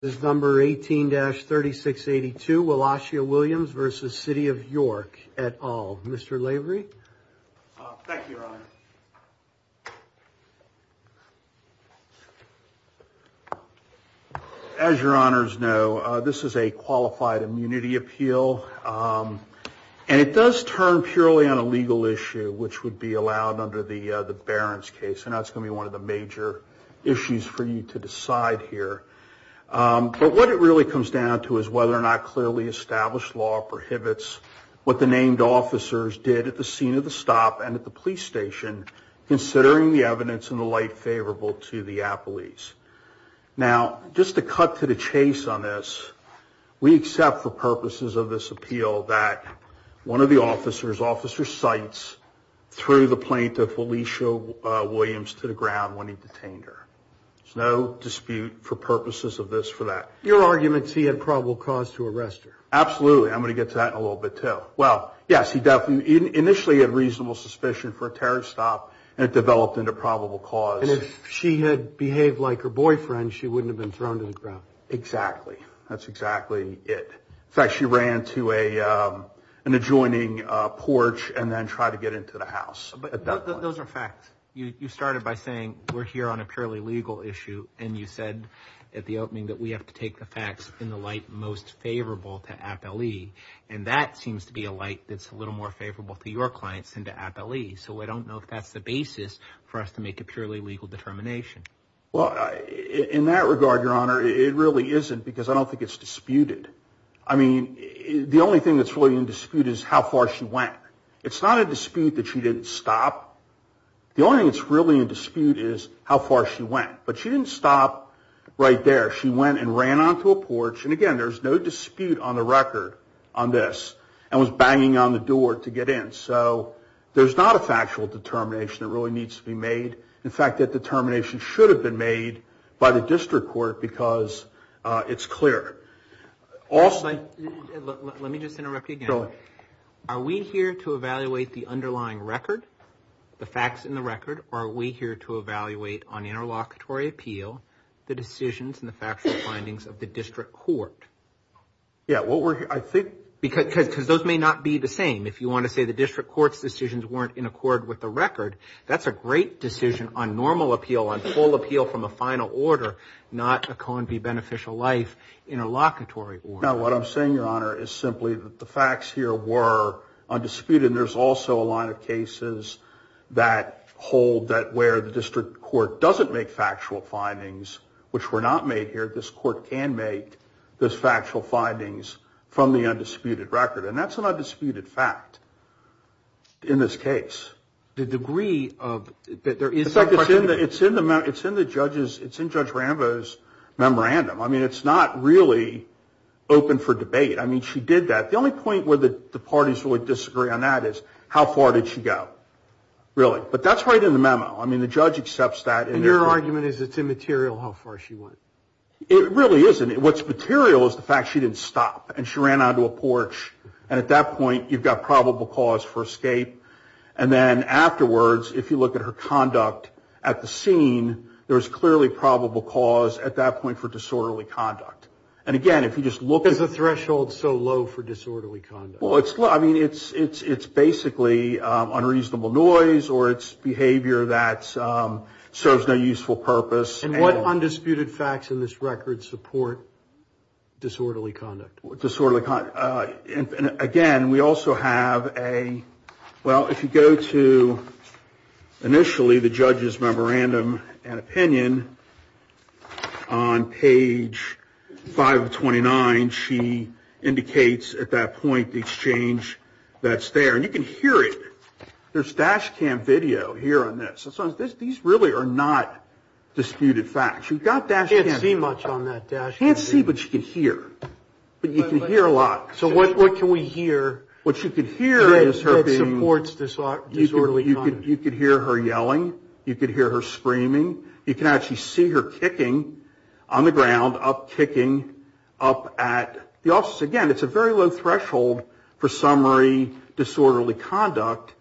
This is number 18-3682, Wallachia Williams v. City of York et al. Mr. Lavery? Thank you, Your Honor. As Your Honors know, this is a qualified immunity appeal, and it does turn purely on a legal issue, which would be allowed under the Barron's case, and that's going to be one of the major issues for you to decide here. But what it really comes down to is whether or not clearly established law prohibits what the named officers did at the scene of the stop and at the police station, considering the evidence in the light favorable to the appellees. Now, just to cut to the chase on this, we accept for purposes of this appeal that one of the officers officer cites threw the plaintiff, Felicia Williams, to the ground when he detained her. There's no dispute for purposes of this for that. Your argument is he had probable cause to arrest her. Absolutely. I'm going to get to that in a little bit, too. Well, yes, he definitely initially had reasonable suspicion for a terrorist stop, and it developed into probable cause. And if she had behaved like her boyfriend, she wouldn't have been thrown to the ground. Exactly. That's exactly it. In fact, she ran to an adjoining porch and then tried to get into the house. But those are facts. You started by saying we're here on a purely legal issue. And you said at the opening that we have to take the facts in the light most favorable to appellee. And that seems to be a light that's a little more favorable to your clients than to appellee. So I don't know if that's the basis for us to make a purely legal determination. Well, in that regard, Your Honor, it really isn't because I don't think it's disputed. I mean, the only thing that's really in dispute is how far she went. It's not a dispute that she didn't stop. The only thing that's really in dispute is how far she went. But she didn't stop right there. She went and ran onto a porch. And again, there's no dispute on the record on this and was banging on the door to get in. So there's not a factual determination that really needs to be made. In fact, that determination should have been made by the district court because it's clear. Also, let me just interrupt you again. Are we here to evaluate the underlying record, the facts in the record? Or are we here to evaluate on interlocutory appeal the decisions and the factual findings of the district court? Yeah, well, I think because those may not be the same. If you want to say the district court's decisions weren't in accord with the record, that's a great decision on normal appeal, on full appeal from a final order, not a co-and-be-beneficial-life interlocutory order. Now, what I'm saying, Your Honor, is simply that the facts here were undisputed. And there's also a line of cases that hold that where the district court doesn't make factual findings, which were not made here, this court can make those factual findings from the undisputed record. And that's an undisputed fact in this case. The degree of... In fact, it's in the judge's memorandum. I mean, it's not really open for debate. I mean, she did that. The only point where the parties would disagree on that is how far did she go, really. But that's right in the memo. I mean, the judge accepts that. And your argument is it's immaterial how far she went. It really isn't. What's material is the fact she didn't stop and she ran onto a porch. And at that point, you've got probable cause for escape. And then afterwards, if you look at her conduct at the scene, there's clearly probable cause at that point for disorderly conduct. And again, if you just look at... Is the threshold so low for disorderly conduct? Well, it's low. I mean, it's basically unreasonable noise or it's behavior that serves no useful purpose. And what undisputed facts in this record support disorderly conduct? Disorderly conduct. Again, we also have a... Well, if you go to, initially, the judge's memorandum and opinion on page 529, she indicates at that point the exchange that's there. And you can hear it. There's dash cam video here on this. So these really are not disputed facts. You've got dash cam... Can't see much on that dash cam video. Can't see, but you can hear. But you can hear a lot. So what can we hear? What you can hear is her being... That supports disorderly conduct. You can hear her yelling. You can hear her screaming. You can actually see her kicking on the ground, up kicking up at the office. Again, it's a very low threshold for summary disorderly conduct.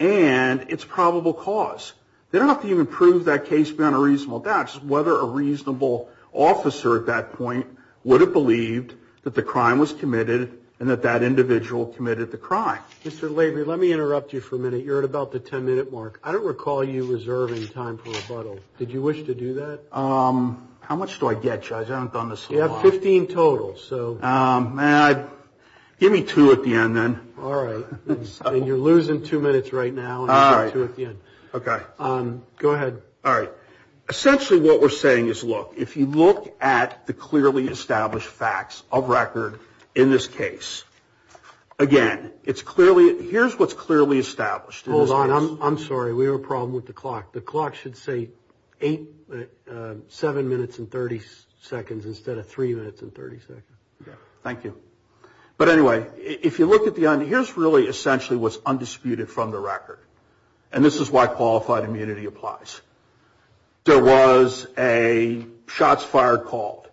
And it's probable cause. They don't have to even prove that case beyond a reasonable doubt. And that's whether a reasonable officer at that point would have believed that the crime was committed and that that individual committed the crime. Mr. Lavery, let me interrupt you for a minute. You're at about the 10-minute mark. I don't recall you reserving time for rebuttal. Did you wish to do that? How much do I get, Judge? I haven't done this in a while. You have 15 total. So... May I... Give me two at the end, then. All right. And you're losing two minutes right now. All right. Okay. Go ahead. All right. Essentially, what we're saying is, look, if you look at the clearly established facts of record in this case, again, it's clearly... Here's what's clearly established. Hold on. I'm sorry. We have a problem with the clock. The clock should say 8... 7 minutes and 30 seconds instead of 3 minutes and 30 seconds. Thank you. But anyway, if you look at the... Here's really essentially what's undisputed from the record. And this is why qualified immunity applies. There was a shots fired call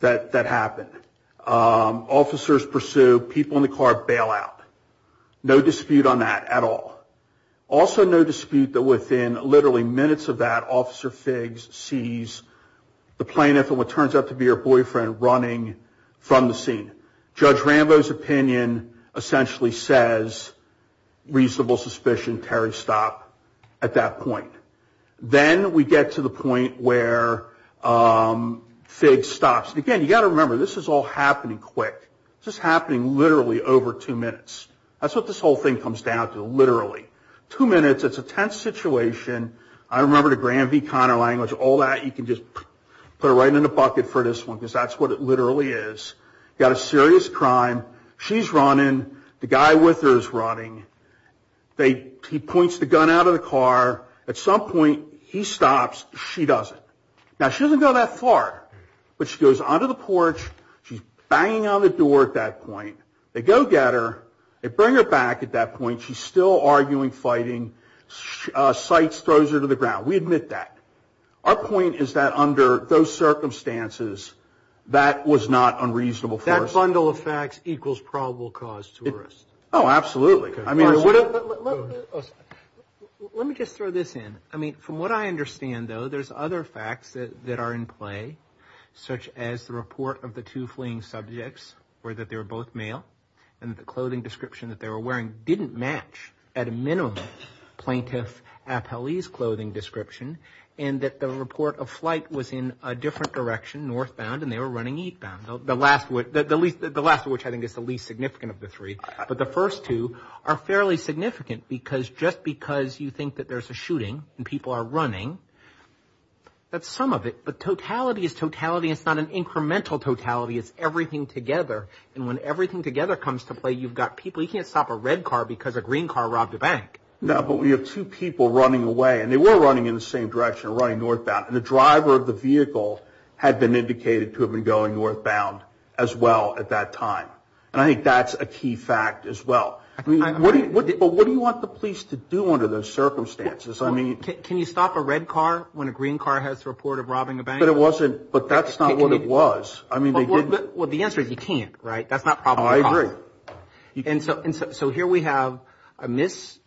that happened. Officers pursue, people in the car bail out. No dispute on that at all. Also, no dispute that within literally minutes of that, Officer Figgs sees the plaintiff, and what turns out to be her boyfriend, running from the scene. Judge Rambo's opinion essentially says, reasonable suspicion. Terry, stop at that point. Then we get to the point where Figgs stops. Again, you got to remember, this is all happening quick. This is happening literally over 2 minutes. That's what this whole thing comes down to, literally. 2 minutes, it's a tense situation. I remember the Graham v. Conner language. All that, you can just put it right in the bucket for this one because that's what it literally is. You got a serious crime. She's running. The guy with her is running. He points the gun out of the car. At some point, he stops. She doesn't. Now, she doesn't go that far, but she goes onto the porch. She's banging on the door at that point. They go get her. They bring her back at that point. She's still arguing, fighting. Sights throws her to the ground. We admit that. Our point is that under those circumstances, that was not unreasonable for us. That bundle of facts equals probable cause to arrest. Oh, absolutely. I mean, let me just throw this in. I mean, from what I understand, though, there's other facts that are in play, such as the report of the two fleeing subjects, or that they were both male, and the clothing description that they were wearing didn't match, at a minimum, Plaintiff Appellee's clothing description, and that the report of flight was in a different direction, northbound, and they were running eastbound, the last of which I think is the least significant of the three. But the first two are fairly significant, because just because you think that there's a shooting and people are running, that's some of it. But totality is totality. It's not an incremental totality. It's everything together. And when everything together comes to play, you've got people. We can't stop a red car because a green car robbed a bank. No, but we have two people running away, and they were running in the same direction, running northbound, and the driver of the vehicle had been indicated to have been going northbound as well at that time. And I think that's a key fact as well. But what do you want the police to do under those circumstances? I mean... Can you stop a red car when a green car has the report of robbing a bank? But it wasn't... But that's not what it was. I mean, they didn't... Well, the answer is you can't, right? That's not probable cause. Oh, I agree. And so here we have a mis...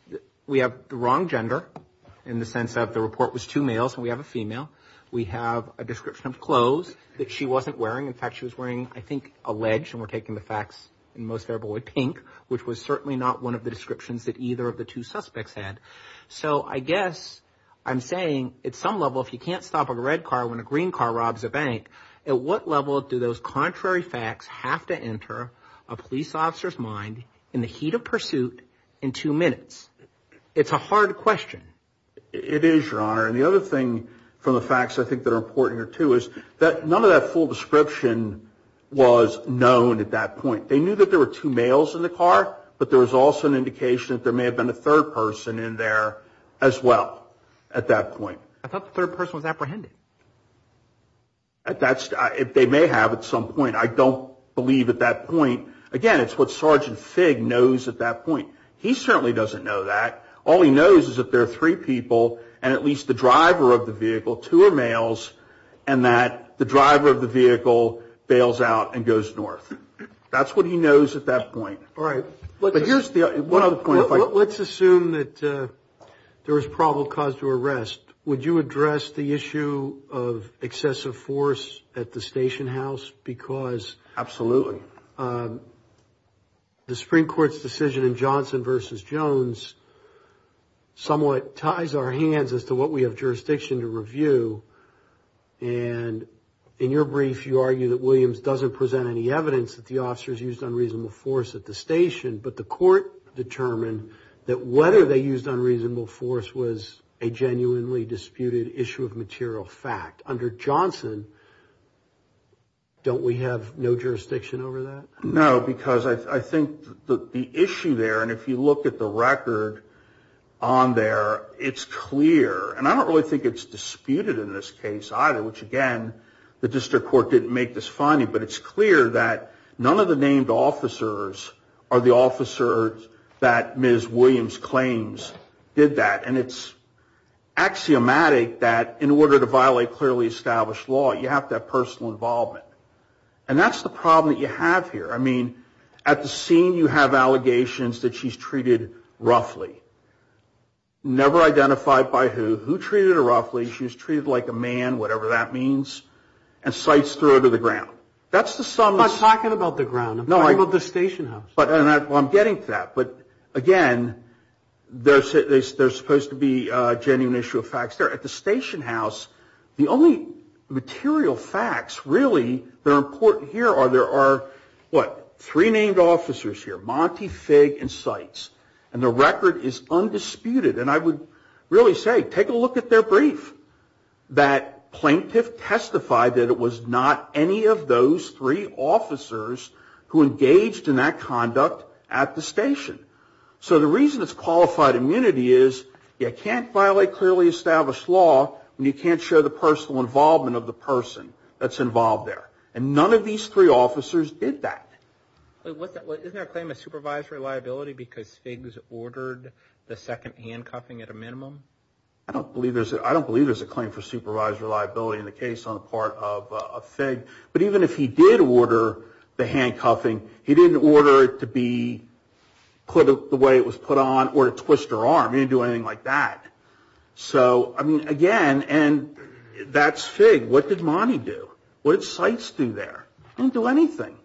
We have the wrong gender in the sense that the report was two males, and we have a female. We have a description of clothes that she wasn't wearing. In fact, she was wearing, I think, a ledge, and we're taking the facts in most variable way pink, which was certainly not one of the descriptions that either of the two suspects had. So I guess I'm saying at some level, if you can't stop a red car when a green car robs a bank, at what level do those contrary facts have to enter a police officer's mind in the heat of pursuit in two minutes? It's a hard question. It is, Your Honor. And the other thing from the facts I think that are important here, too, is that none of that full description was known at that point. They knew that there were two males in the car, but there was also an indication that there may have been a third person in there as well at that point. I thought the third person was apprehended. That's if they may have at some point. I don't believe at that point. Again, it's what Sergeant Figg knows at that point. He certainly doesn't know that. All he knows is that there are three people, and at least the driver of the vehicle, two are males, and that the driver of the vehicle bails out and goes north. That's what he knows at that point. All right. But here's the other point. Let's assume that there was probable cause to arrest. Would you address the issue of excessive force at the station house? Because the Supreme Court's decision in Johnson v. Jones somewhat ties our hands as to what we have jurisdiction to review. And in your brief, you argue that Williams doesn't present any evidence that the officers used unreasonable force at the station, but the court determined that whether they used unreasonable force was a genuinely disputed issue of material fact. Under Johnson, don't we have no jurisdiction over that? No, because I think the issue there, and if you look at the record on there, it's clear, and I don't really think it's disputed in this case either, but it's clear that none of the named officers are the officers that Ms. Williams claims did that. And it's axiomatic that in order to violate clearly established law, you have to have personal involvement. And that's the problem that you have here. I mean, at the scene, you have allegations that she's treated roughly. Never identified by who. Who treated her roughly? She was treated like a man, whatever that means, and sites throw her to the ground. That's the sum of... I'm not talking about the ground. I'm talking about the station house. Well, I'm getting to that. But again, there's supposed to be a genuine issue of facts there. At the station house, the only material facts really that are important here are there are, what, three named officers here, Monty, Fig, and Sites. And the record is undisputed. And I would really say, take a look at their brief. That plaintiff testified that it was not any of those three officers who engaged in that conduct at the station. So the reason it's qualified immunity is you can't violate clearly established law when you can't show the personal involvement of the person that's involved there. And none of these three officers did that. Isn't there a claim of supervised reliability because Fig's ordered the second handcuffing at a minimum? I don't believe there's a claim for supervised reliability in the case on the part of Fig. But even if he did order the handcuffing, he didn't order it to be put the way it was put on or to twist her arm. He didn't do anything like that. So, I mean, again, and that's Fig. What did Monty do? What did Sites do there? Didn't do anything.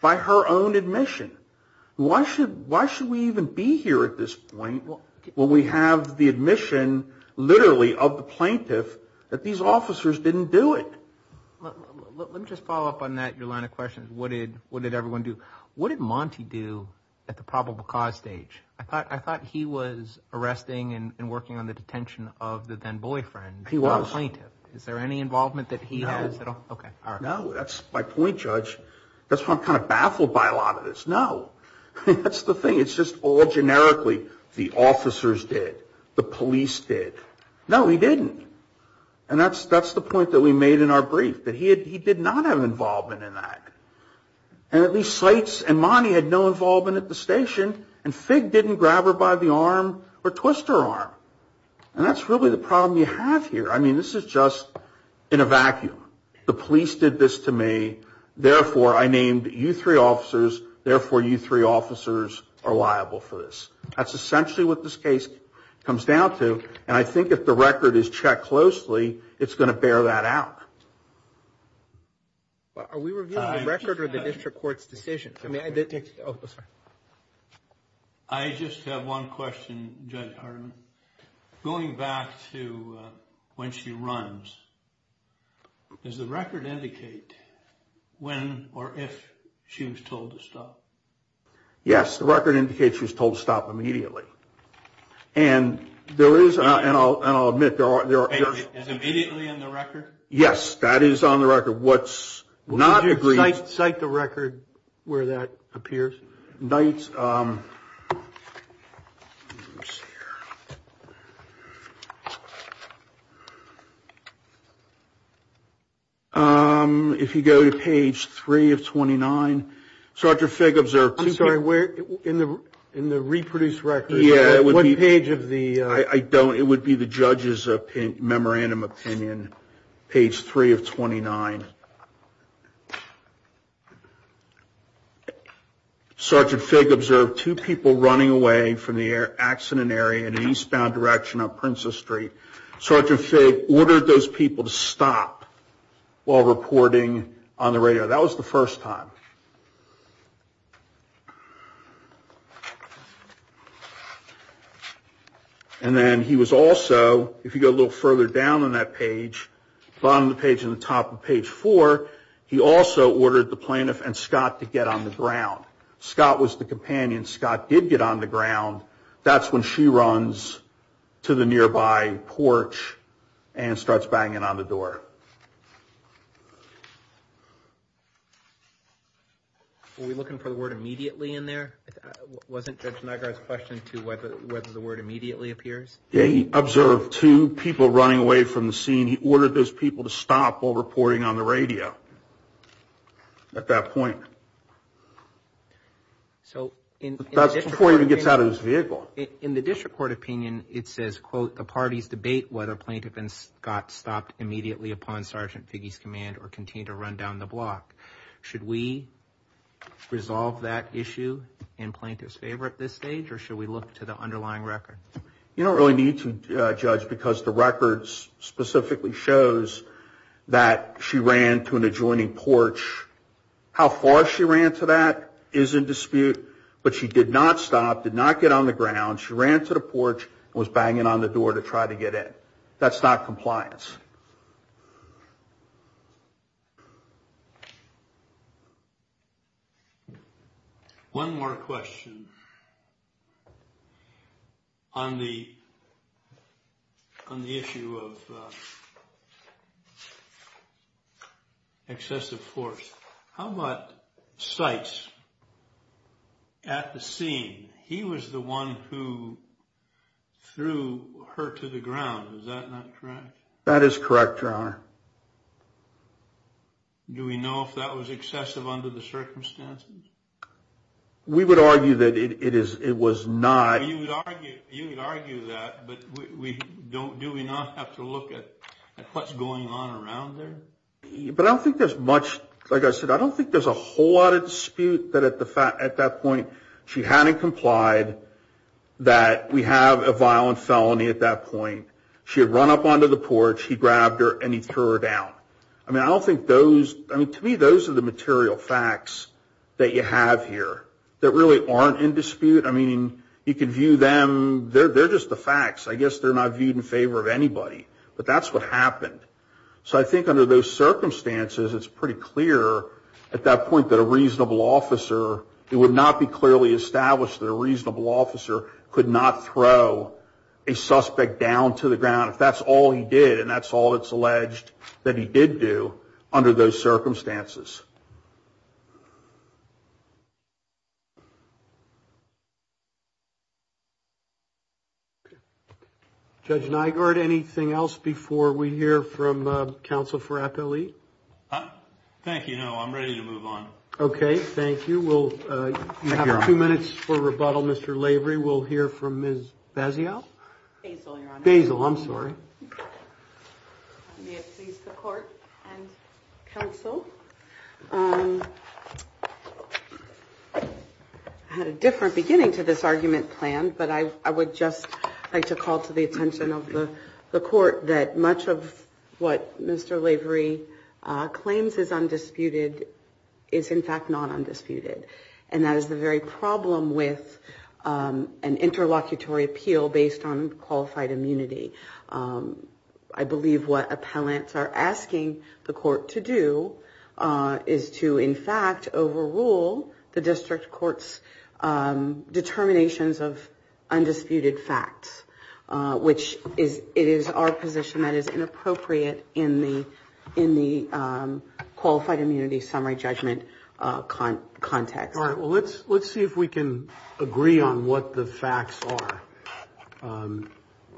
By her own admission. Why should we even be here at this point when we have the admission, literally, of the plaintiff that these officers didn't do it? Let me just follow up on that, your line of questions. What did everyone do? What did Monty do at the probable cause stage? I thought he was arresting and working on the detention of the then boyfriend. He was. Is there any involvement that he has at all? Okay. No, that's my point, Judge. That's why I'm kind of baffled by a lot of this. No. That's the thing. It's just all generically, the officers did, the police did. No, he didn't. And that's the point that we made in our brief, that he did not have involvement in that. And at least Sites and Monty had no involvement at the station. And Fig didn't grab her by the arm or twist her arm. And that's really the problem you have here. I mean, this is just in a vacuum. The police did this to me. Therefore, I named you three officers. Therefore, you three officers are liable for this. That's essentially what this case comes down to. And I think if the record is checked closely, it's going to bear that out. Are we reviewing the record or the district court's decision? I mean, I didn't take, oh, I'm sorry. I just have one question, Judge Hardiman. Going back to when she runs, does the record indicate when or if she was told to stop? Yes, the record indicates she was told to stop immediately. And there is, and I'll admit, there are... Immediately in the record? Yes, that is on the record. What's not agreed... Cite the record where that appears. If you go to page 3 of 29, Dr. Figg observed... I'm sorry, in the reproduced record, what page of the... I don't, it would be the judge's memorandum opinion, page 3 of 29. Sergeant Figg observed two people running away from the accident area in an eastbound direction on Princess Street. Sergeant Figg ordered those people to stop while reporting on the radio. That was the first time. And then he was also, if you go a little further down on that page, bottom of the page and the top of page 4, he also ordered the plaintiff and Scott to get on the ground. Scott was the companion. Scott did get on the ground. That's when she runs to the nearby porch and starts banging on the door. Were we looking for the word immediately in there? Wasn't Judge Nagar's question to whether the word immediately appears? Yeah, he observed two people running away from the scene. He ordered those people to stop while reporting on the radio at that point. So in... That's before he even gets out of his vehicle. In the district court opinion, it says, quote, the parties debate whether plaintiff and Scott stopped immediately upon Sergeant Figg's command or continue to run down the block. Should we resolve that issue in plaintiff's favor at this stage or should we look to the underlying record? You don't really need to, Judge, because the records specifically shows that she ran to an adjoining porch. How far she ran to that is in dispute, but she did not stop, did not get on the ground. She ran to the porch and was banging on the door to try to get in. That's not compliance. One more question on the issue of excessive force. How about Sykes at the scene? He was the one who threw her to the ground. Is that not correct? That is correct, Your Honor. Do we know if that was excessive under the circumstances? We would argue that it was not. You would argue that, but do we not have to look at what's going on around there? But I don't think there's much... Like I said, I don't think there's a whole lot of dispute that at that point she hadn't complied that we have a violent felony at that point. She had run up onto the porch. He grabbed her and he threw her down. I mean, I don't think those... I mean, to me, those are the material facts that you have here that really aren't in dispute. I mean, you can view them... They're just the facts. I guess they're not viewed in favor of anybody, but that's what happened. So I think under those circumstances, it's pretty clear at that point that a reasonable officer... It would not be clearly established that a reasonable officer could not throw a suspect down to the ground if that's all he did, and that's all it's alleged that he did do under those circumstances. Judge Nygaard, anything else before we hear from counsel for appellee? Thank you. No, I'm ready to move on. Okay, thank you. You have two minutes for rebuttal, Mr. Lavery. We'll hear from Ms. Bazio. Basil, Your Honor. Basil, I'm sorry. May it please the Court and counsel. I had a different beginning to this argument planned, but I would just like to call to the attention of the Court that much of what Mr. Lavery claims is undisputed is, in fact, not undisputed, and that is the very problem with an interlocutory appeal based on qualified immunity. I believe what appellants are asking the Court to do is to, in fact, overrule the District Court's determinations of undisputed facts, which it is our position that is inappropriate in the qualified immunity summary judgment context. All right, well, let's see if we can agree on what the facts are,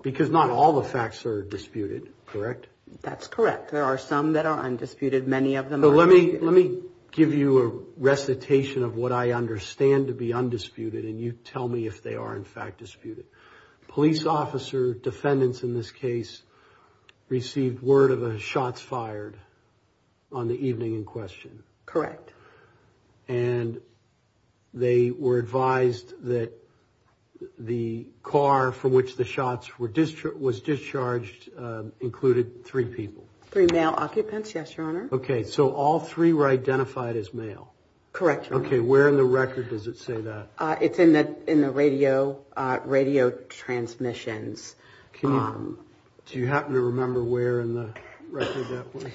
because not all the facts are disputed, correct? That's correct. There are some that are undisputed. Many of them are disputed. Let me give you a recitation of what I understand to be undisputed, and you tell me if they are, in fact, disputed. Police officer defendants in this case received word of a shots fired on the evening in question. Correct. And they were advised that the car from which the shots were discharged included three people. Three male occupants, yes, Your Honor. Okay, so all three were identified as male. Correct, Your Honor. Okay, where in the record does it say that? It's in the radio transmissions. Do you happen to remember where in the record that was?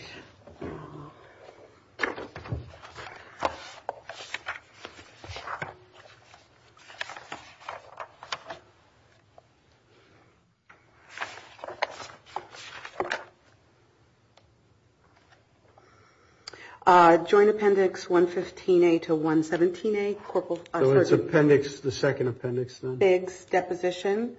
Joint appendix 115A to 117A. So it's appendix, the second appendix then? Biggs deposition,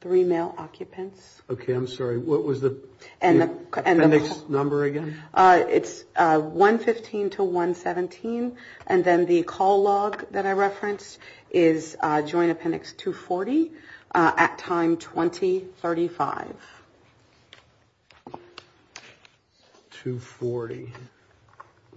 three male occupants. Okay, I'm sorry, what was the appendix number again? It's 115 to 117, and then the call log that I referenced is joint appendix 240 at time 2035. 240, okay.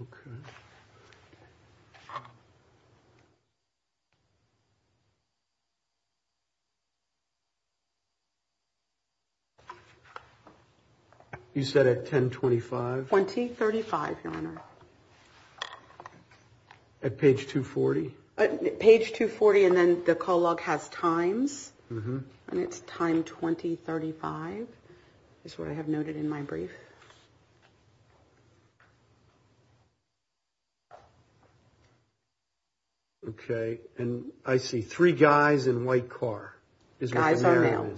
You said at 1025? 2035, Your Honor. At page 240? Page 240, and then the call log has times, and it's time 2035 is what I have noted in my brief. Okay, and I see three guys in white car. Guys are male.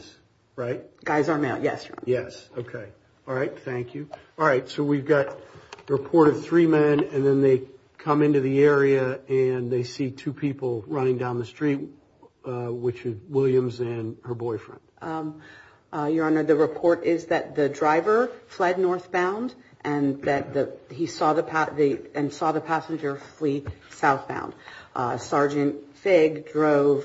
Right? Guys are male, yes, Your Honor. Yes, okay, all right, thank you. All right, so we've got a report of three men, and then they come into the area, and they see two people running down the street, which is Williams and her boyfriend. Your Honor, the report is that the driver fled northbound, and that he saw the passenger flee southbound. Sergeant Figg drove,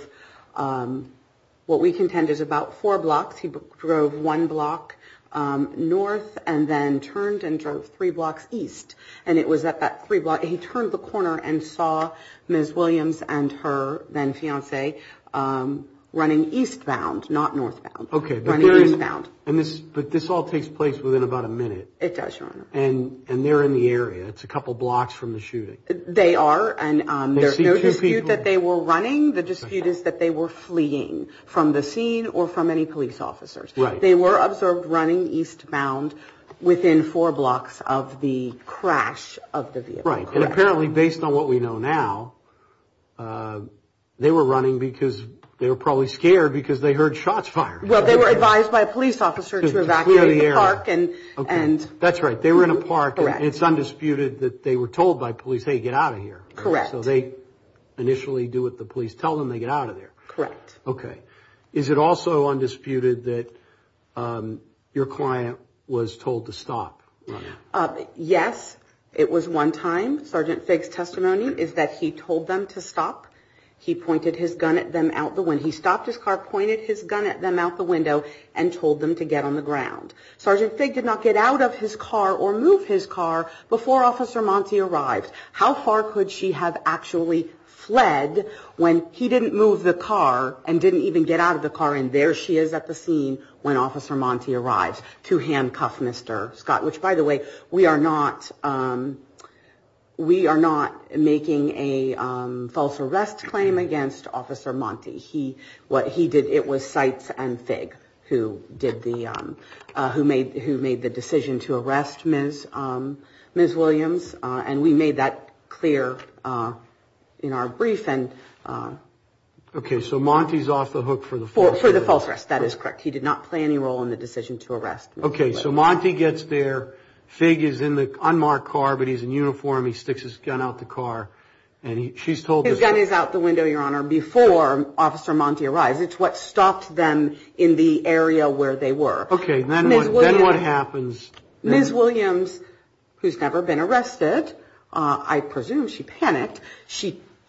what we contend is about four blocks. He drove one block north, and then turned and drove three blocks east, and it was at that three block, he turned the corner and saw Ms. Williams and her then fiance running eastbound, not northbound. Okay, but this all takes place within about a minute. It does, Your Honor. And they're in the area. It's a couple blocks from the shooting. They are, and there's no dispute that they were running. The dispute is that they were fleeing from the scene or from any police officers. They were observed running eastbound within four blocks of the crash of the vehicle. Right, and apparently, based on what we know now, they were running because they were probably scared because they heard shots fired. Well, they were advised by a police officer to evacuate the park and... That's right. They were in a park, and it's undisputed that they were told by police, hey, get out of here. Correct. So they initially do what the police tell them, they get out of there. Correct. Okay. Is it also undisputed that your client was told to stop? Yes, it was one time. Sergeant Figg's testimony is that he told them to stop. He pointed his gun at them out the window. He stopped his car, pointed his gun at them out the window, and told them to get on the ground. Sergeant Figg did not get out of his car or move his car before Officer Monte arrived. How far could she have actually fled when he didn't move the car and didn't even get out of the car, and there she is at the scene when Officer Monte arrives. To handcuff Mr. Scott, which, by the way, we are not making a false arrest claim against Officer Monte. He, what he did, it was Seitz and Figg who made the decision to arrest Ms. Williams, and we made that clear in our brief, and... Okay, so Monte's off the hook for the false arrest. For the false arrest, that is correct. He did not play any role in the decision to arrest Ms. Williams. Okay, so Monte gets there. Figg is in the unmarked car, but he's in uniform. He sticks his gun out the car, and she's told... His gun is out the window, Your Honor, before Officer Monte arrives. It's what stopped them in the area where they were. Okay, then what happens? Ms. Williams, who's never been arrested, I presume she panicked,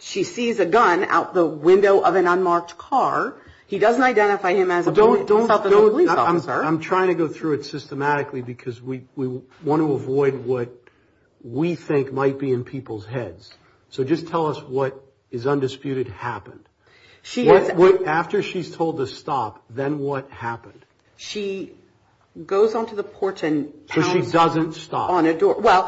she sees a gun out the window of an unmarked car. He doesn't identify him as a police officer. I'm trying to go through it systematically because we want to avoid what we think might be in people's heads. So just tell us what is undisputed happened. After she's told to stop, then what happened? She goes onto the porch and... So she doesn't stop. Well,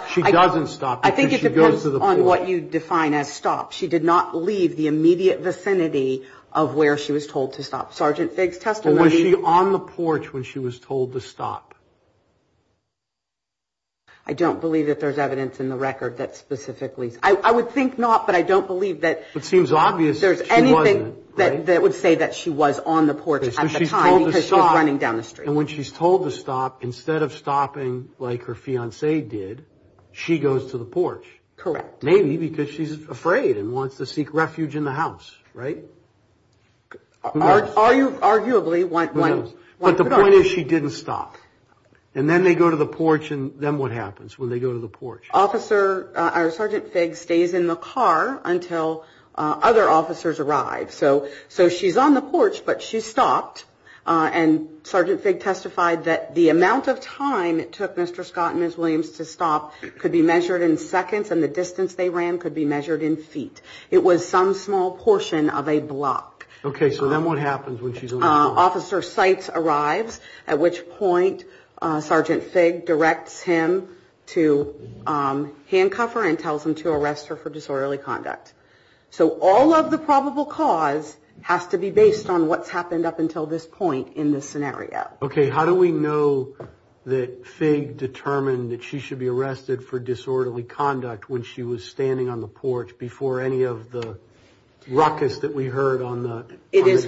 I think it depends on what you define as stop. She did not leave the immediate vicinity of where she was told to stop. Sergeant Figg's testimony... But was she on the porch when she was told to stop? I don't believe that there's evidence in the record that specifically... I would think not, but I don't believe that... It seems obvious that she wasn't, right? ...that would say that she was on the porch at the time because she was running down the street. And when she's told to stop, instead of stopping like her fiancé did, she goes to the porch. Correct. Maybe because she's afraid and wants to seek refuge in the house, right? Arguably, one could argue. But the point is she didn't stop. And then they go to the porch, and then what happens when they go to the porch? Officer, Sergeant Figg stays in the car until other officers arrive. So she's on the porch, but she stopped. And Sergeant Figg testified that the amount of time it took Mr. Scott and Ms. Williams to stop could be measured in seconds, and the distance they ran could be measured in feet. It was some small portion of a block. Okay, so then what happens when she's on the porch? Officer Seitz arrives, at which point Sergeant Figg directs him to handcuff her and tells him to arrest her for disorderly conduct. So all of the probable cause has to be based on what's happened up until this point in this scenario. Okay, how do we know that Figg determined that she should be arrested for disorderly conduct when she was standing on the porch before any of the ruckus that we heard on the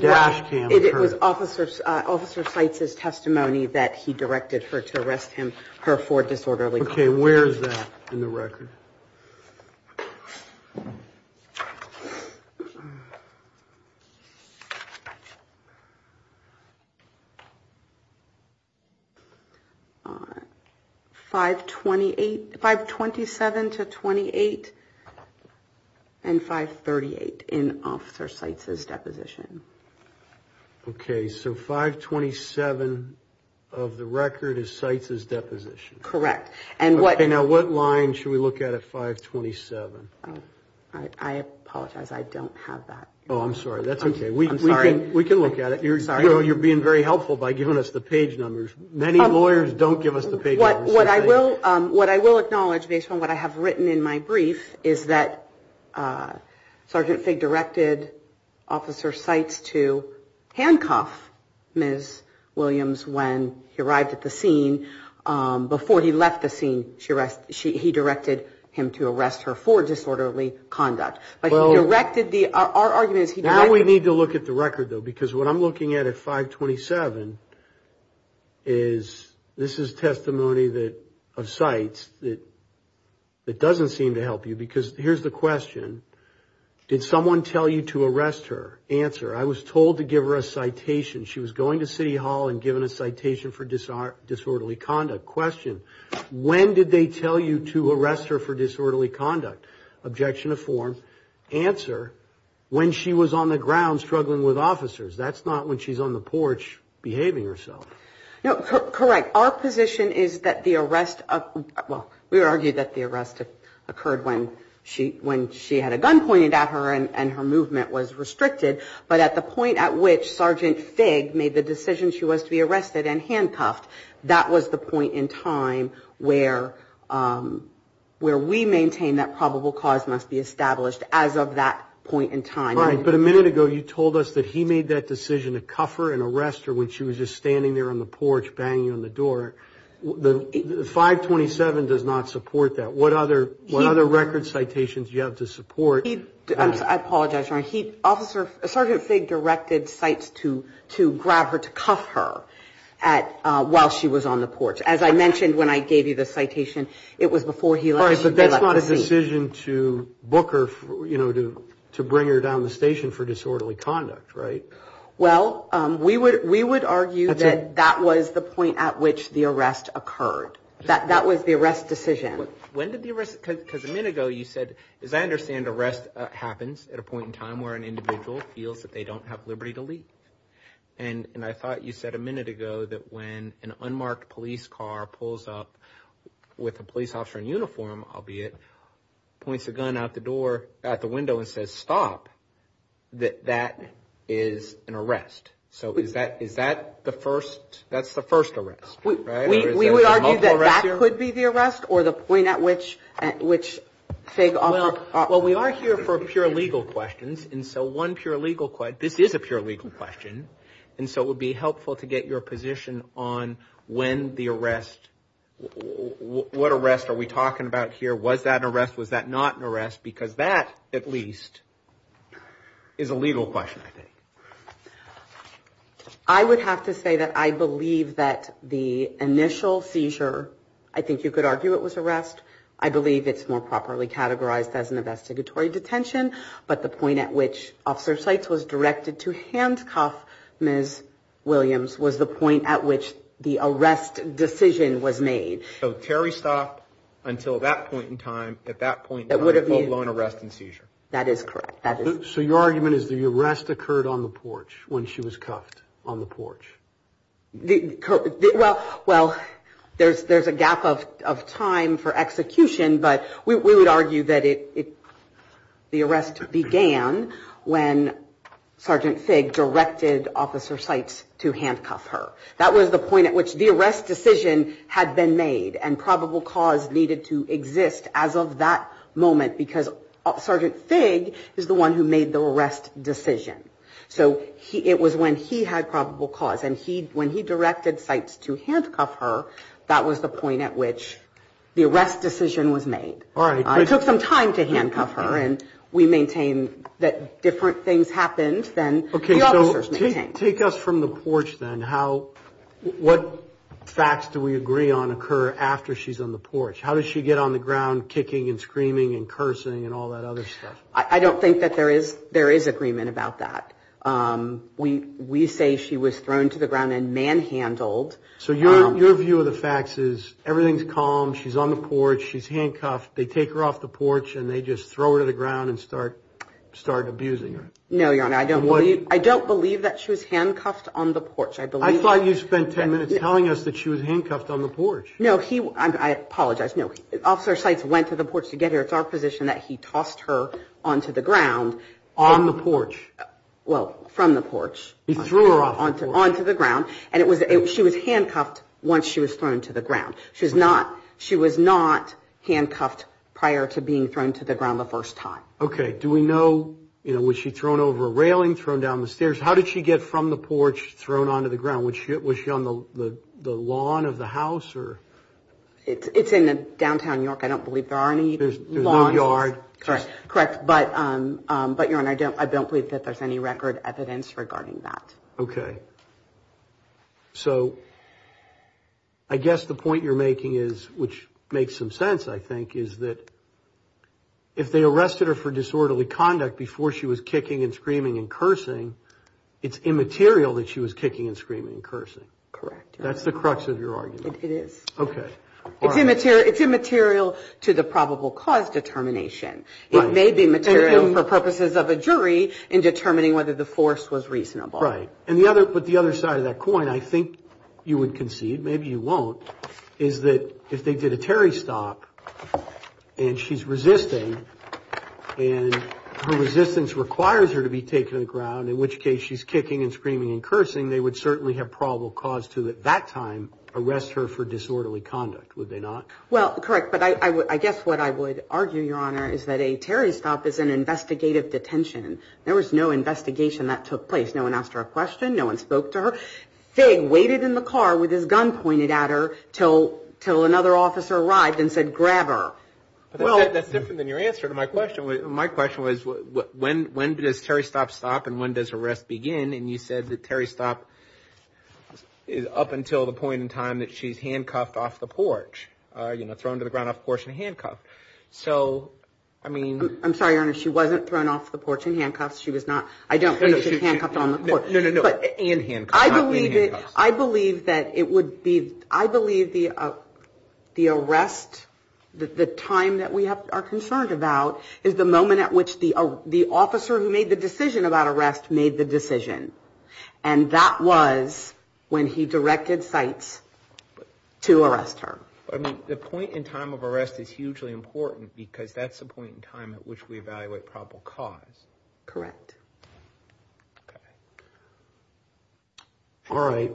dash cam occurred? It was Officer Seitz's testimony that he directed her to arrest him, her, for disorderly conduct. Okay, where is that in the record? 527 to 28 and 538 in Officer Seitz's deposition. Okay, so 527 of the record is Seitz's deposition. Correct. Okay, now what line should we look at at 527? I apologize, I don't have that. Oh, I'm sorry, that's okay. We can look at it. You're being very helpful by giving us the page numbers. Many lawyers don't give us the page numbers. What I will acknowledge based on what I have written in my brief is that Sergeant Figg directed Officer Seitz to handcuff Ms. Williams when he arrived at the scene before he left the scene. He directed him to arrest her for disorderly conduct. But he directed the... Our argument is he directed... Now we need to look at the record, though, because what I'm looking at at 527 is... This is testimony of Seitz that doesn't seem to help you because here's the question. Did someone tell you to arrest her? Answer, I was told to give her a citation. She was going to City Hall and given a citation for disorderly conduct. Question, when did they tell you to arrest her for disorderly conduct? Objection to form. Answer, when she was on the ground struggling with officers. That's not when she's on the porch behaving herself. No, correct. Our position is that the arrest... Well, we argue that the arrest occurred when she had a gun pointed at her and her movement was restricted. But at the point at which Sergeant Figg made the decision she was to be arrested and handcuffed, that was the point in time where we maintain that probable cause must be established as of that point in time. Right, but a minute ago you told us that he made that decision to cuff her and arrest her when she was just standing there on the porch banging on the door. 527 does not support that. What other record citations do you have to support? I apologize, Your Honor. Sergeant Figg directed sites to grab her, to cuff her while she was on the porch. As I mentioned when I gave you the citation, it was before he let her... All right, but that's not a decision to book her, you know, to bring her down the station for disorderly conduct, right? Well, we would argue that that was the point at which the arrest occurred. That was the arrest decision. When did the arrest... Because a minute ago you said, as I understand arrest happens at a point in time where an individual feels that they don't have liberty to leave. And I thought you said a minute ago that when an unmarked police car pulls up with a police officer in uniform, albeit, points a gun out the window and says, stop, that that is an arrest. So is that the first... That's the first arrest, right? We would argue that that could be the arrest or the point at which Figg offered... Well, we are here for pure legal questions and so one pure legal question... This is a pure legal question. And so it would be helpful to get your position on when the arrest... What arrest are we talking about here? Was that an arrest? Was that not an arrest? Because that, at least, is a legal question, I think. I would have to say that I believe that the initial seizure, I think you could argue it was arrest. I believe it's more properly categorized as an investigatory detention. But the point at which Officer Seitz was directed to handcuff Ms. Williams was the point at which the arrest decision was made. So Terry stopped until that point in time. At that point... That would have been... ...a full-blown arrest and seizure. That is correct. So your argument is the arrest occurred on the porch when she was cuffed on the porch? Well, there's a gap of time for execution, but we would argue that the arrest began when Sergeant Figg directed Officer Seitz to handcuff her. That was the point at which the arrest decision had been made and probable cause needed to exist as of that moment because Sergeant Figg is the one who made the arrest decision. So it was when he had probable cause and when he directed Seitz to handcuff her, that was the point at which the arrest decision was made. All right. It took some time to handcuff her and we maintain that different things happened than the officers maintained. Take us from the porch then. What facts do we agree on occur after she's on the porch? How does she get on the ground kicking and screaming and cursing and all that other stuff? I don't think that there is agreement about that. We say she was thrown to the ground and manhandled. So your view of the facts is everything's calm, she's on the porch, she's handcuffed, they take her off the porch and they just throw her to the ground and start abusing her. No, Your Honor. I don't believe that she was handcuffed on the porch. I thought you spent 10 minutes telling us that she was handcuffed on the porch. No, I apologize. No, Officer Seitz went to the porch to get her. It's our position that he tossed her onto the ground. On the porch. Well, from the porch. He threw her off the porch. Onto the ground and she was handcuffed once she was thrown to the ground. She was not handcuffed prior to being thrown to the ground the first time. Okay. Do we know, you know, was she thrown over a railing, thrown down the stairs? How did she get from the porch thrown onto the ground? Was she on the lawn of the house or? It's in downtown York. I don't believe there are any lawns. There's no yard. Correct, but Your Honor, I don't believe that there's any record evidence regarding that. Okay. So, I guess the point you're making is, which makes some sense, I think, is that if they arrested her for disorderly conduct before she was kicking and screaming and cursing, it's immaterial that she was kicking and screaming and cursing. Correct. That's the crux of your argument. It is. Okay. It's immaterial to the probable cause determination. It may be material for purposes of a jury in determining whether the force was reasonable. Right. And the other, but the other side of that coin, I think you would concede, maybe you won't, is that if they did a Terry stop and she's resisting and her resistance requires her to be taken to the ground, in which case she's kicking and screaming and cursing, they would certainly have probable cause to, at that time, arrest her for disorderly conduct, would they not? Well, correct, but I guess what I would argue, Your Honor, is that a Terry stop is an investigative detention. There was no investigation that took place. No one asked her a question. No one spoke to her. Figg waited in the car with his gun pointed at her till another officer arrived and said, grab her. Well, that's different than your answer to my question. My question was, when does Terry stop stop and when does arrest begin? And you said that Terry stop is up until the point in time that she's handcuffed off the porch, thrown to the ground off the porch and handcuffed. I'm sorry, Your Honor, she wasn't thrown off the porch and handcuffed. She was not, I don't believe she was handcuffed on the porch. No, no, no, and handcuffed, not being handcuffed. I believe that it would be, I believe the arrest, the time that we are concerned about, is the moment at which the officer who made the decision about arrest made the decision. And that was when he directed sites to arrest her. I mean, the point in time of arrest is hugely important because that's the point in time at which we evaluate probable cause. Correct. All right,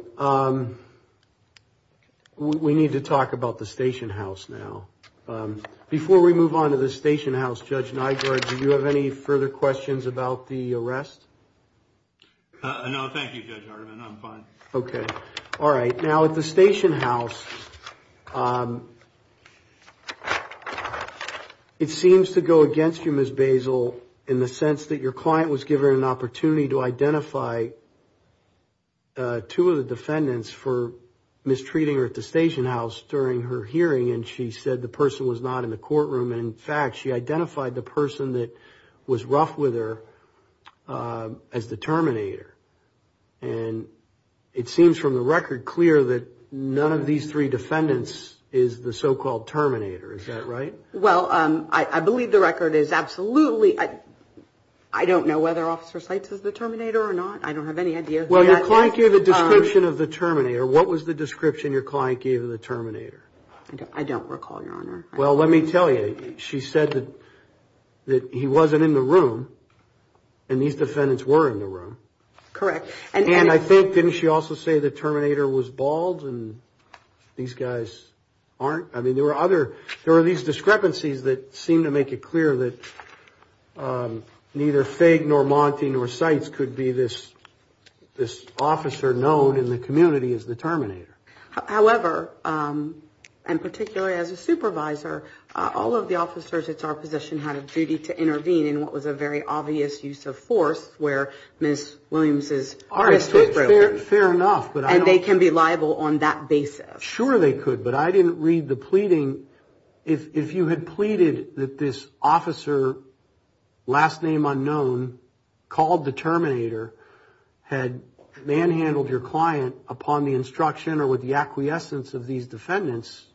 we need to talk about the station house now. Before we move on to the station house, Judge Nygaard, do you have any further questions about the arrest? No, thank you, Judge Hardiman, I'm fine. Okay, all right. Now, at the station house, it seems to go against you, Judge Basil, in the sense that your client was given an opportunity to identify two of the defendants for mistreating her at the station house during her hearing and she said the person was not in the courtroom. And in fact, she identified the person that was rough with her as the terminator. And it seems from the record clear that none of these three defendants is the so-called terminator. Is that right? Well, I believe the record is absolutely. I don't know whether Officer Seitz is the terminator or not. I don't have any idea. Well, your client gave a description of the terminator. What was the description your client gave of the terminator? I don't recall, Your Honor. Well, let me tell you. She said that he wasn't in the room and these defendants were in the room. Correct. And I think, didn't she also say the terminator was bald and these guys aren't? I mean, there were these discrepancies that seem to make it clear that neither Figg nor Monty nor Seitz could be this officer known in the community as the terminator. However, and particularly as a supervisor, all of the officers, it's our position, had a duty to intervene in what was a very obvious use of force where Ms. Williams is. Fair enough. And they can be liable on that basis. Sure, they could. But I didn't read the pleading. If you had pleaded that this officer, last name unknown, called the terminator, had manhandled your client upon the instruction or with the acquiescence of these defendants,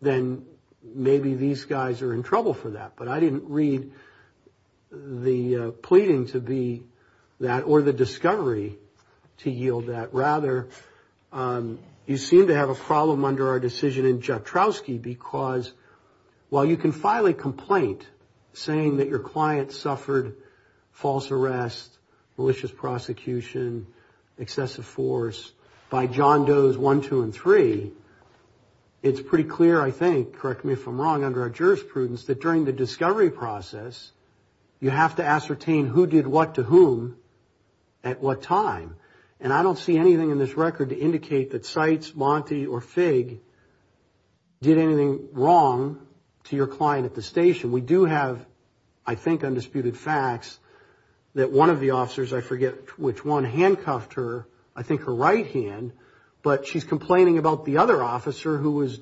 then maybe these guys are in trouble for that. But I didn't read the pleading to be that or the discovery to yield that. Rather, you seem to have a problem under our decision in Joukowsky because while you can file a complaint saying that your client suffered false arrest, malicious prosecution, excessive force by John Does 1, 2, and 3, it's pretty clear, I think, correct me if I'm wrong, under our jurisprudence, that during the discovery process, you have to ascertain who did what to whom at what time. And I don't see anything in this record to indicate that Seitz, Monti, or Figg did anything wrong to your client at the station. We do have, I think, undisputed facts that one of the officers, I forget which one, handcuffed her, I think her right hand, but she's complaining about the other officer who was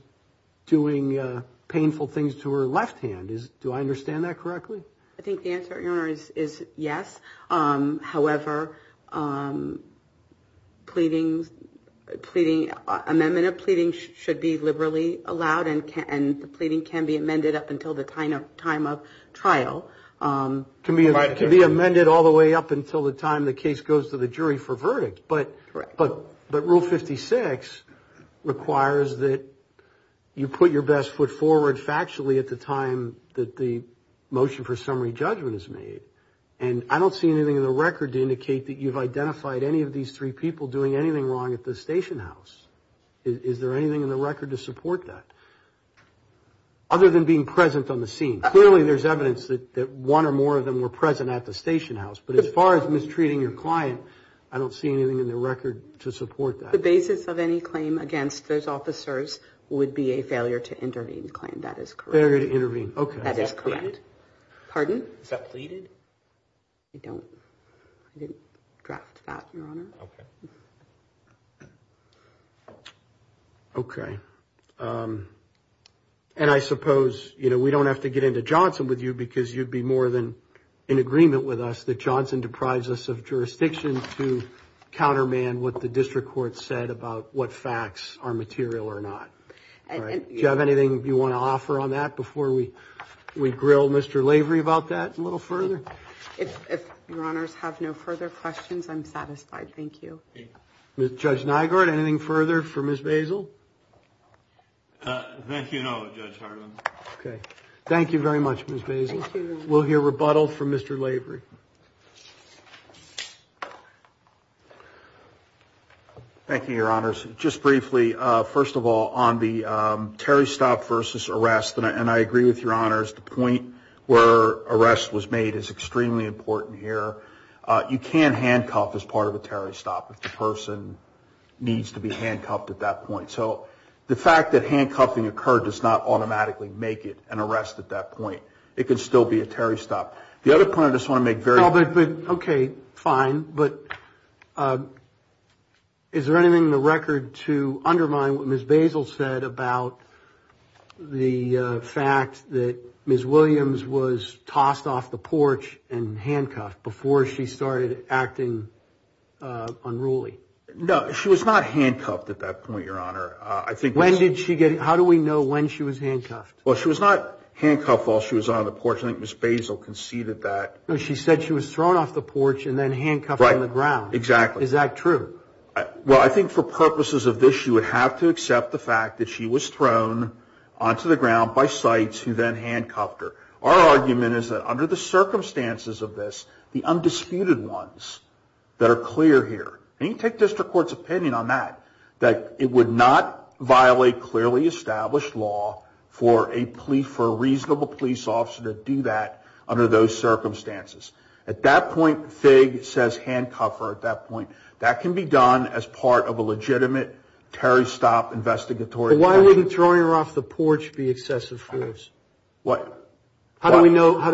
doing painful things to her left hand. Do I understand that correctly? I think the answer, Your Honor, is yes. However, pleading, amendment of pleading should be liberally allowed and the pleading can be amended up until the time of trial. It can be amended all the way up until the time the case goes to the jury for verdict. But Rule 56 requires that you put your best foot forward factually at the time that the motion for summary judgment is made. And I don't see anything in the record to indicate that you've identified any of these three people doing anything wrong at the station house. Is there anything in the record to support that? Other than being present on the scene. Clearly, there's evidence that one or more of them were present at the station house. But as far as mistreating your client, I don't see anything in the record to support that. The basis of any claim against those officers would be a failure to intervene claim. That is correct. Failure to intervene, okay. That is correct. Pardon? Is that pleaded? I don't, I didn't draft that, your honor. Okay. Okay. And I suppose, you know, we don't have to get into Johnson with you because you'd be more than in agreement with us that Johnson deprives us of jurisdiction to counterman what the district court said about what facts are material or not. Do you have anything you want to offer on that before we grill Mr. Lavery about that a little further? If your honors have no further questions, I'm satisfied. Thank you. Judge Nygaard, anything further for Ms. Basil? Thank you, no, Judge Harlan. Okay. Thank you very much, Ms. Basil. Thank you. We'll hear rebuttal from Mr. Lavery. Thank you, your honors. Just briefly, first of all, on the Terry stop versus arrest, and I agree with your honors, the point where arrest was made is extremely important here. You can't handcuff as part of a Terry stop if the person needs to be handcuffed at that point. So the fact that handcuffing occurred does not automatically make it an arrest at that point. It can still be a Terry stop. The other point I just want to make very... Oh, but, but, okay, fine. But is there anything in the record to undermine what Ms. Basil said about the fact that Ms. Williams was tossed off the porch and handcuffed before she started acting unruly? No, she was not handcuffed at that point, your honor. I think... When did she get... How do we know when she was handcuffed? Well, she was not handcuffed while she was on the porch. I think Ms. Basil conceded that... No, she said she was thrown off the porch and then handcuffed on the ground. Exactly. Is that true? Well, I think for purposes of this, you would have to accept the fact that she was thrown onto the ground by sites who then handcuffed her. Our argument is that under the circumstances of this, the undisputed ones that are clear here, and you can take district court's opinion on that, that it would not violate clearly established law for a reasonable police officer to do that under those circumstances. At that point, FIG says handcuff her at that point. That can be done as part of a legitimate Terry Stopp investigatory... But why wouldn't throwing her off the porch be excessive for this? What? How do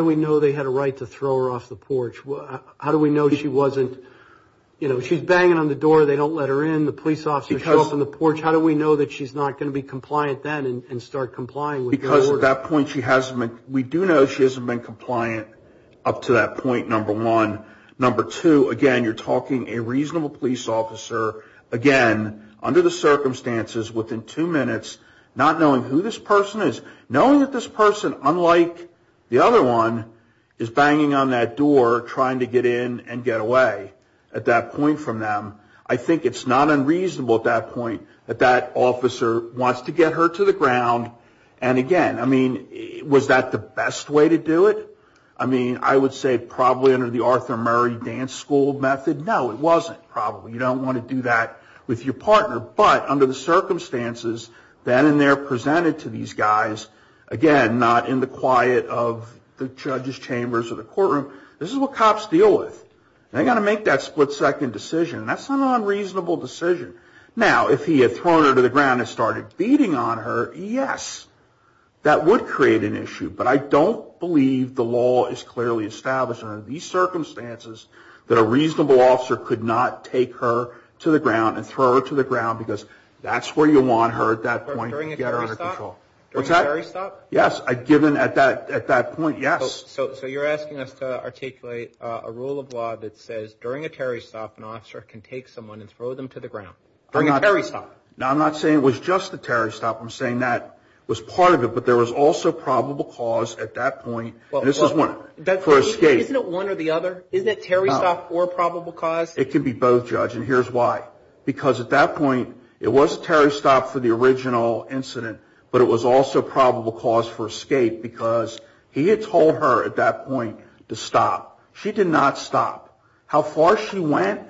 we know they had a right to throw her off the porch? How do we know she wasn't... You know, she's banging on the door, they don't let her in, the police officer shows up on the porch. How do we know that she's not going to be compliant then and start complying with the order? Because at that point, she hasn't been... We do know she hasn't been compliant up to that point, number one. Number two, again, you're talking a reasonable police officer, again, under the circumstances, within two minutes, not knowing who this person is, knowing that this person, unlike the other one, is banging on that door trying to get in and get away at that point from them. I think it's not unreasonable at that point that that officer wants to get her to the ground. And again, I mean, was that the best way to do it? I mean, I would say probably under the Arthur Murray dance school method. No, it wasn't, probably. You don't want to do that with your partner. But under the circumstances, then and there presented to these guys, again, not in the quiet of the judge's chambers or the courtroom, this is what cops deal with. They got to make that split-second decision. And that's an unreasonable decision. Now, if he had thrown her to the ground and started beating on her, yes, that would create an issue. But I don't believe the law is clearly established under these circumstances that a reasonable officer could not take her to the ground and throw her to the ground because that's where you want her at that point to get her out of control. What's that? During a Terry stop? Yes, given at that point, yes. So you're asking us to articulate a rule of law that says during a Terry stop, an officer can take someone and throw them to the ground. During a Terry stop. No, I'm not saying it was just the Terry stop. I'm saying that was part of it. But there was also probable cause at that point, and this is one, for escape. Isn't it one or the other? Isn't it Terry stop or probable cause? It could be both, judge, and here's why. Because at that point, it was a Terry stop for the original incident, but it was also probable cause for escape because he had told her at that point to stop. She did not stop. How far she went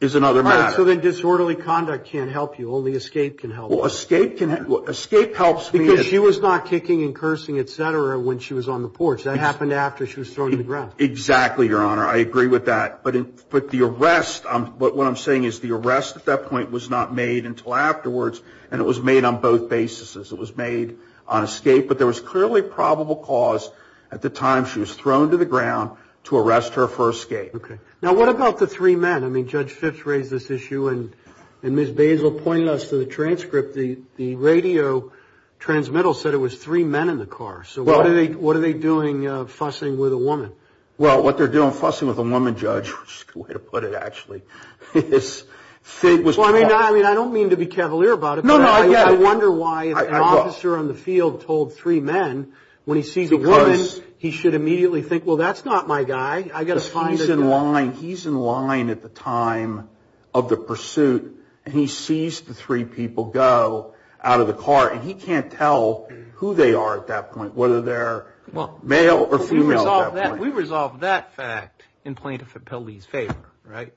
is another matter. Only escape can help. Well, escape can help. Because she was not kicking and cursing, etc. when she was on the porch. That happened after she was thrown to the ground. Exactly, your honor. I agree with that. But the arrest, what I'm saying is the arrest at that point was not made until afterwards, and it was made on both basis. It was made on escape, but there was clearly probable cause at the time she was thrown to the ground to arrest her for escape. Okay. Now, what about the three men? I mean, Judge Phipps raised this issue and Ms. Basil pointed us to the transcript. The radio transmittal said it was three men in the car. So what are they doing fussing with a woman? Well, what they're doing fussing with a woman, Judge, which is a good way to put it, actually, is, I mean, I don't mean to be cavalier about it, but I wonder why an officer on the field told three men when he sees a woman, he should immediately think, well, that's not my guy. I got to find a guy. He's in line at the time of the pursuit and he sees the three people go out of the car and he can't tell who they are at that point, whether they're male or female at that point. We resolve that fact in Plaintiff Appellee's favor, right?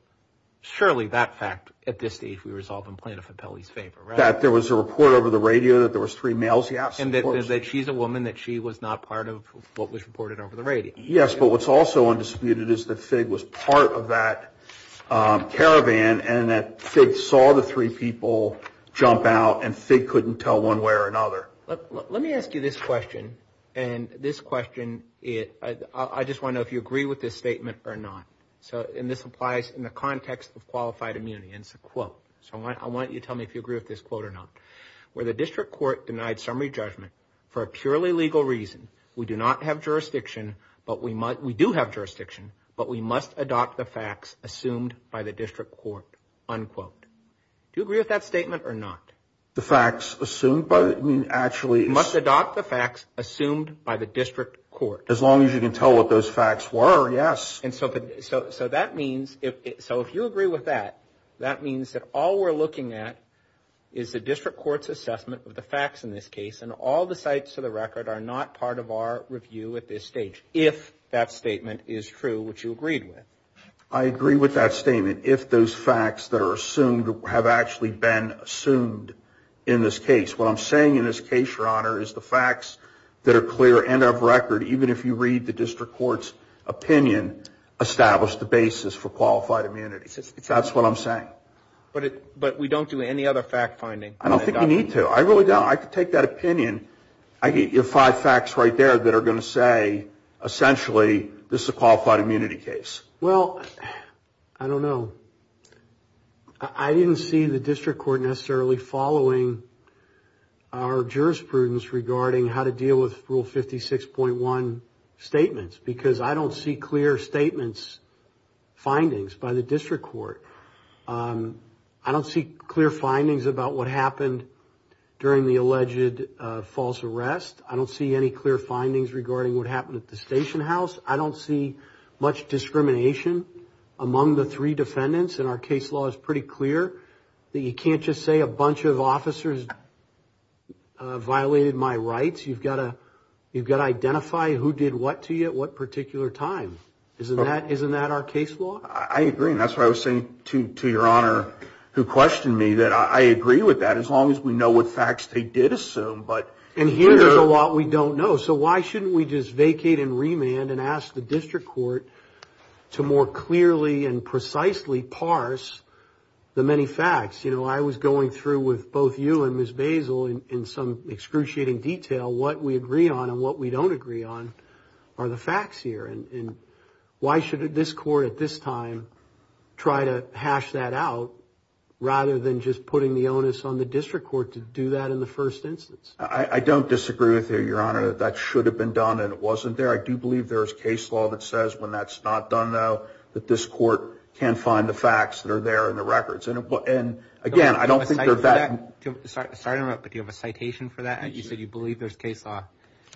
Surely that fact at this stage we resolve in Plaintiff Appellee's favor, right? That there was a report over the radio that there was three males? Yes, of course. And that she's a woman, that she was not part of what was reported over the radio. Yes, but what's also undisputed is that Fig was part of that caravan and that Fig saw the three people jump out and Fig couldn't tell one way or another. Let me ask you this question. And this question, I just want to know if you agree with this statement or not. So, and this applies in the context of qualified immunity. And it's a quote. So, why don't you tell me if you agree with this quote or not? Where the district court denied summary judgment for a purely legal reason, we do not have jurisdiction, but we must, we do have jurisdiction, but we must adopt the facts assumed by the district court, unquote. Do you agree with that statement or not? The facts assumed by, I mean, actually. You must adopt the facts assumed by the district court. As long as you can tell what those facts were, yes. And so, so that means, so if you agree with that, that means that all we're looking at is the district court's assessment of the facts in this case. And all the sites to the record are not part of our review at this stage, if that statement is true, which you agreed with. I agree with that statement, if those facts that are assumed have actually been assumed in this case. What I'm saying in this case, Your Honor, is the facts that are clear and of record, even if you read the district court's opinion, establish the basis for qualified immunity. That's what I'm saying. But it, but we don't do any other fact finding. I don't think we need to. I really don't. I could take that opinion. I get your five facts right there that are going to say essentially, this is a qualified immunity case. Well, I don't know. I didn't see the district court necessarily following our jurisprudence regarding how to deal with Rule 56.1 statements because I don't see clear statements, findings by the district court. I don't see clear findings about what happened during the alleged false arrest. I don't see any clear findings regarding what happened at the station house. I don't see much discrimination among the three defendants. And our case law is pretty clear that you can't just say a bunch of officers violated my rights. You've got to, you've got to identify who did what to you at what particular time. Isn't that, isn't that our case law? I agree. And that's why I was saying to, to Your Honor, who questioned me, that I agree with that as long as we know what facts they did assume. But, and here's a lot we don't know. So why shouldn't we just vacate and remand and ask the district court to more clearly and precisely parse the many facts? You know, I was going through with both you and Ms. Basil in some excruciating detail what we agree on and what we don't agree on are the facts here. And why should this court at this time try to hash that out rather than just putting the onus on the district court to do that in the first instance? I don't disagree with you, Your Honor. That should have been done and it wasn't there. I do believe there is case law that says when that's not done, though, that this court can find the facts that are there in the records. And, and again, I don't think they're that... Sorry to interrupt, but do you have a citation for that? You said you believe there's case law.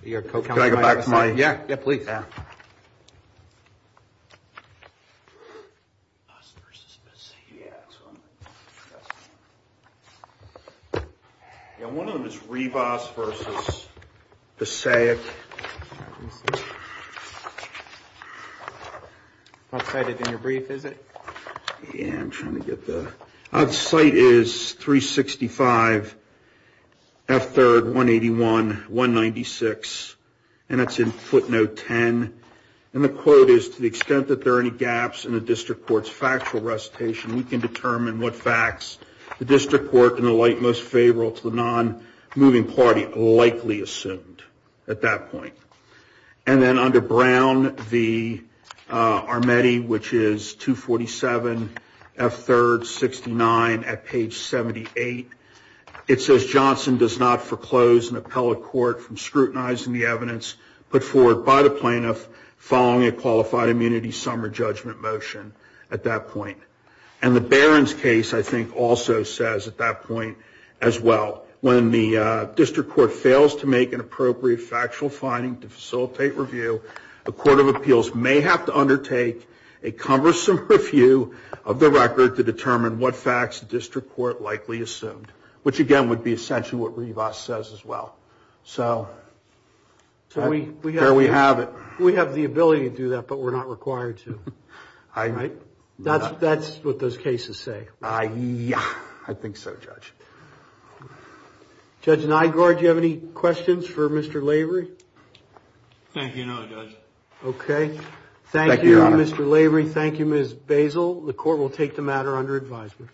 Your co-counsel might have a citation. Yeah, yeah, please. Yeah, one of them is Rivas versus Passaic. I'll cite it in your brief, is it? Yeah, I'm trying to get the... The cite is 365 F3rd 181 196 and it's in footnote 10. And the quote is, to the extent that there are any gaps in the district court's factual recitation, we can determine what facts the district court in the light most favorable to the non-moving party likely assumed. At that point. And then under Brown v. Armetti, which is 247 F3rd 69 at page 78. It says Johnson does not foreclose an appellate court from scrutinizing the evidence put forward by the plaintiff following a qualified immunity summary judgment motion at that point. And the Barron's case, I think, also says at that point as well, when the district court fails to make an appropriate factual finding to facilitate review, the Court of Appeals may have to undertake a cumbersome review of the record to determine what facts the district court likely assumed. Which again, would be essentially what Rivas says as well. So, there we have it. We have the ability to do that, but we're not required to. Right? That's what those cases say. Yeah, I think so, Judge. Judge Nygaard, do you have any questions for Mr. Lavery? Thank you, no, Judge. Okay. Thank you, Mr. Lavery. Thank you, Ms. Basil. The court will take the matter under advisement.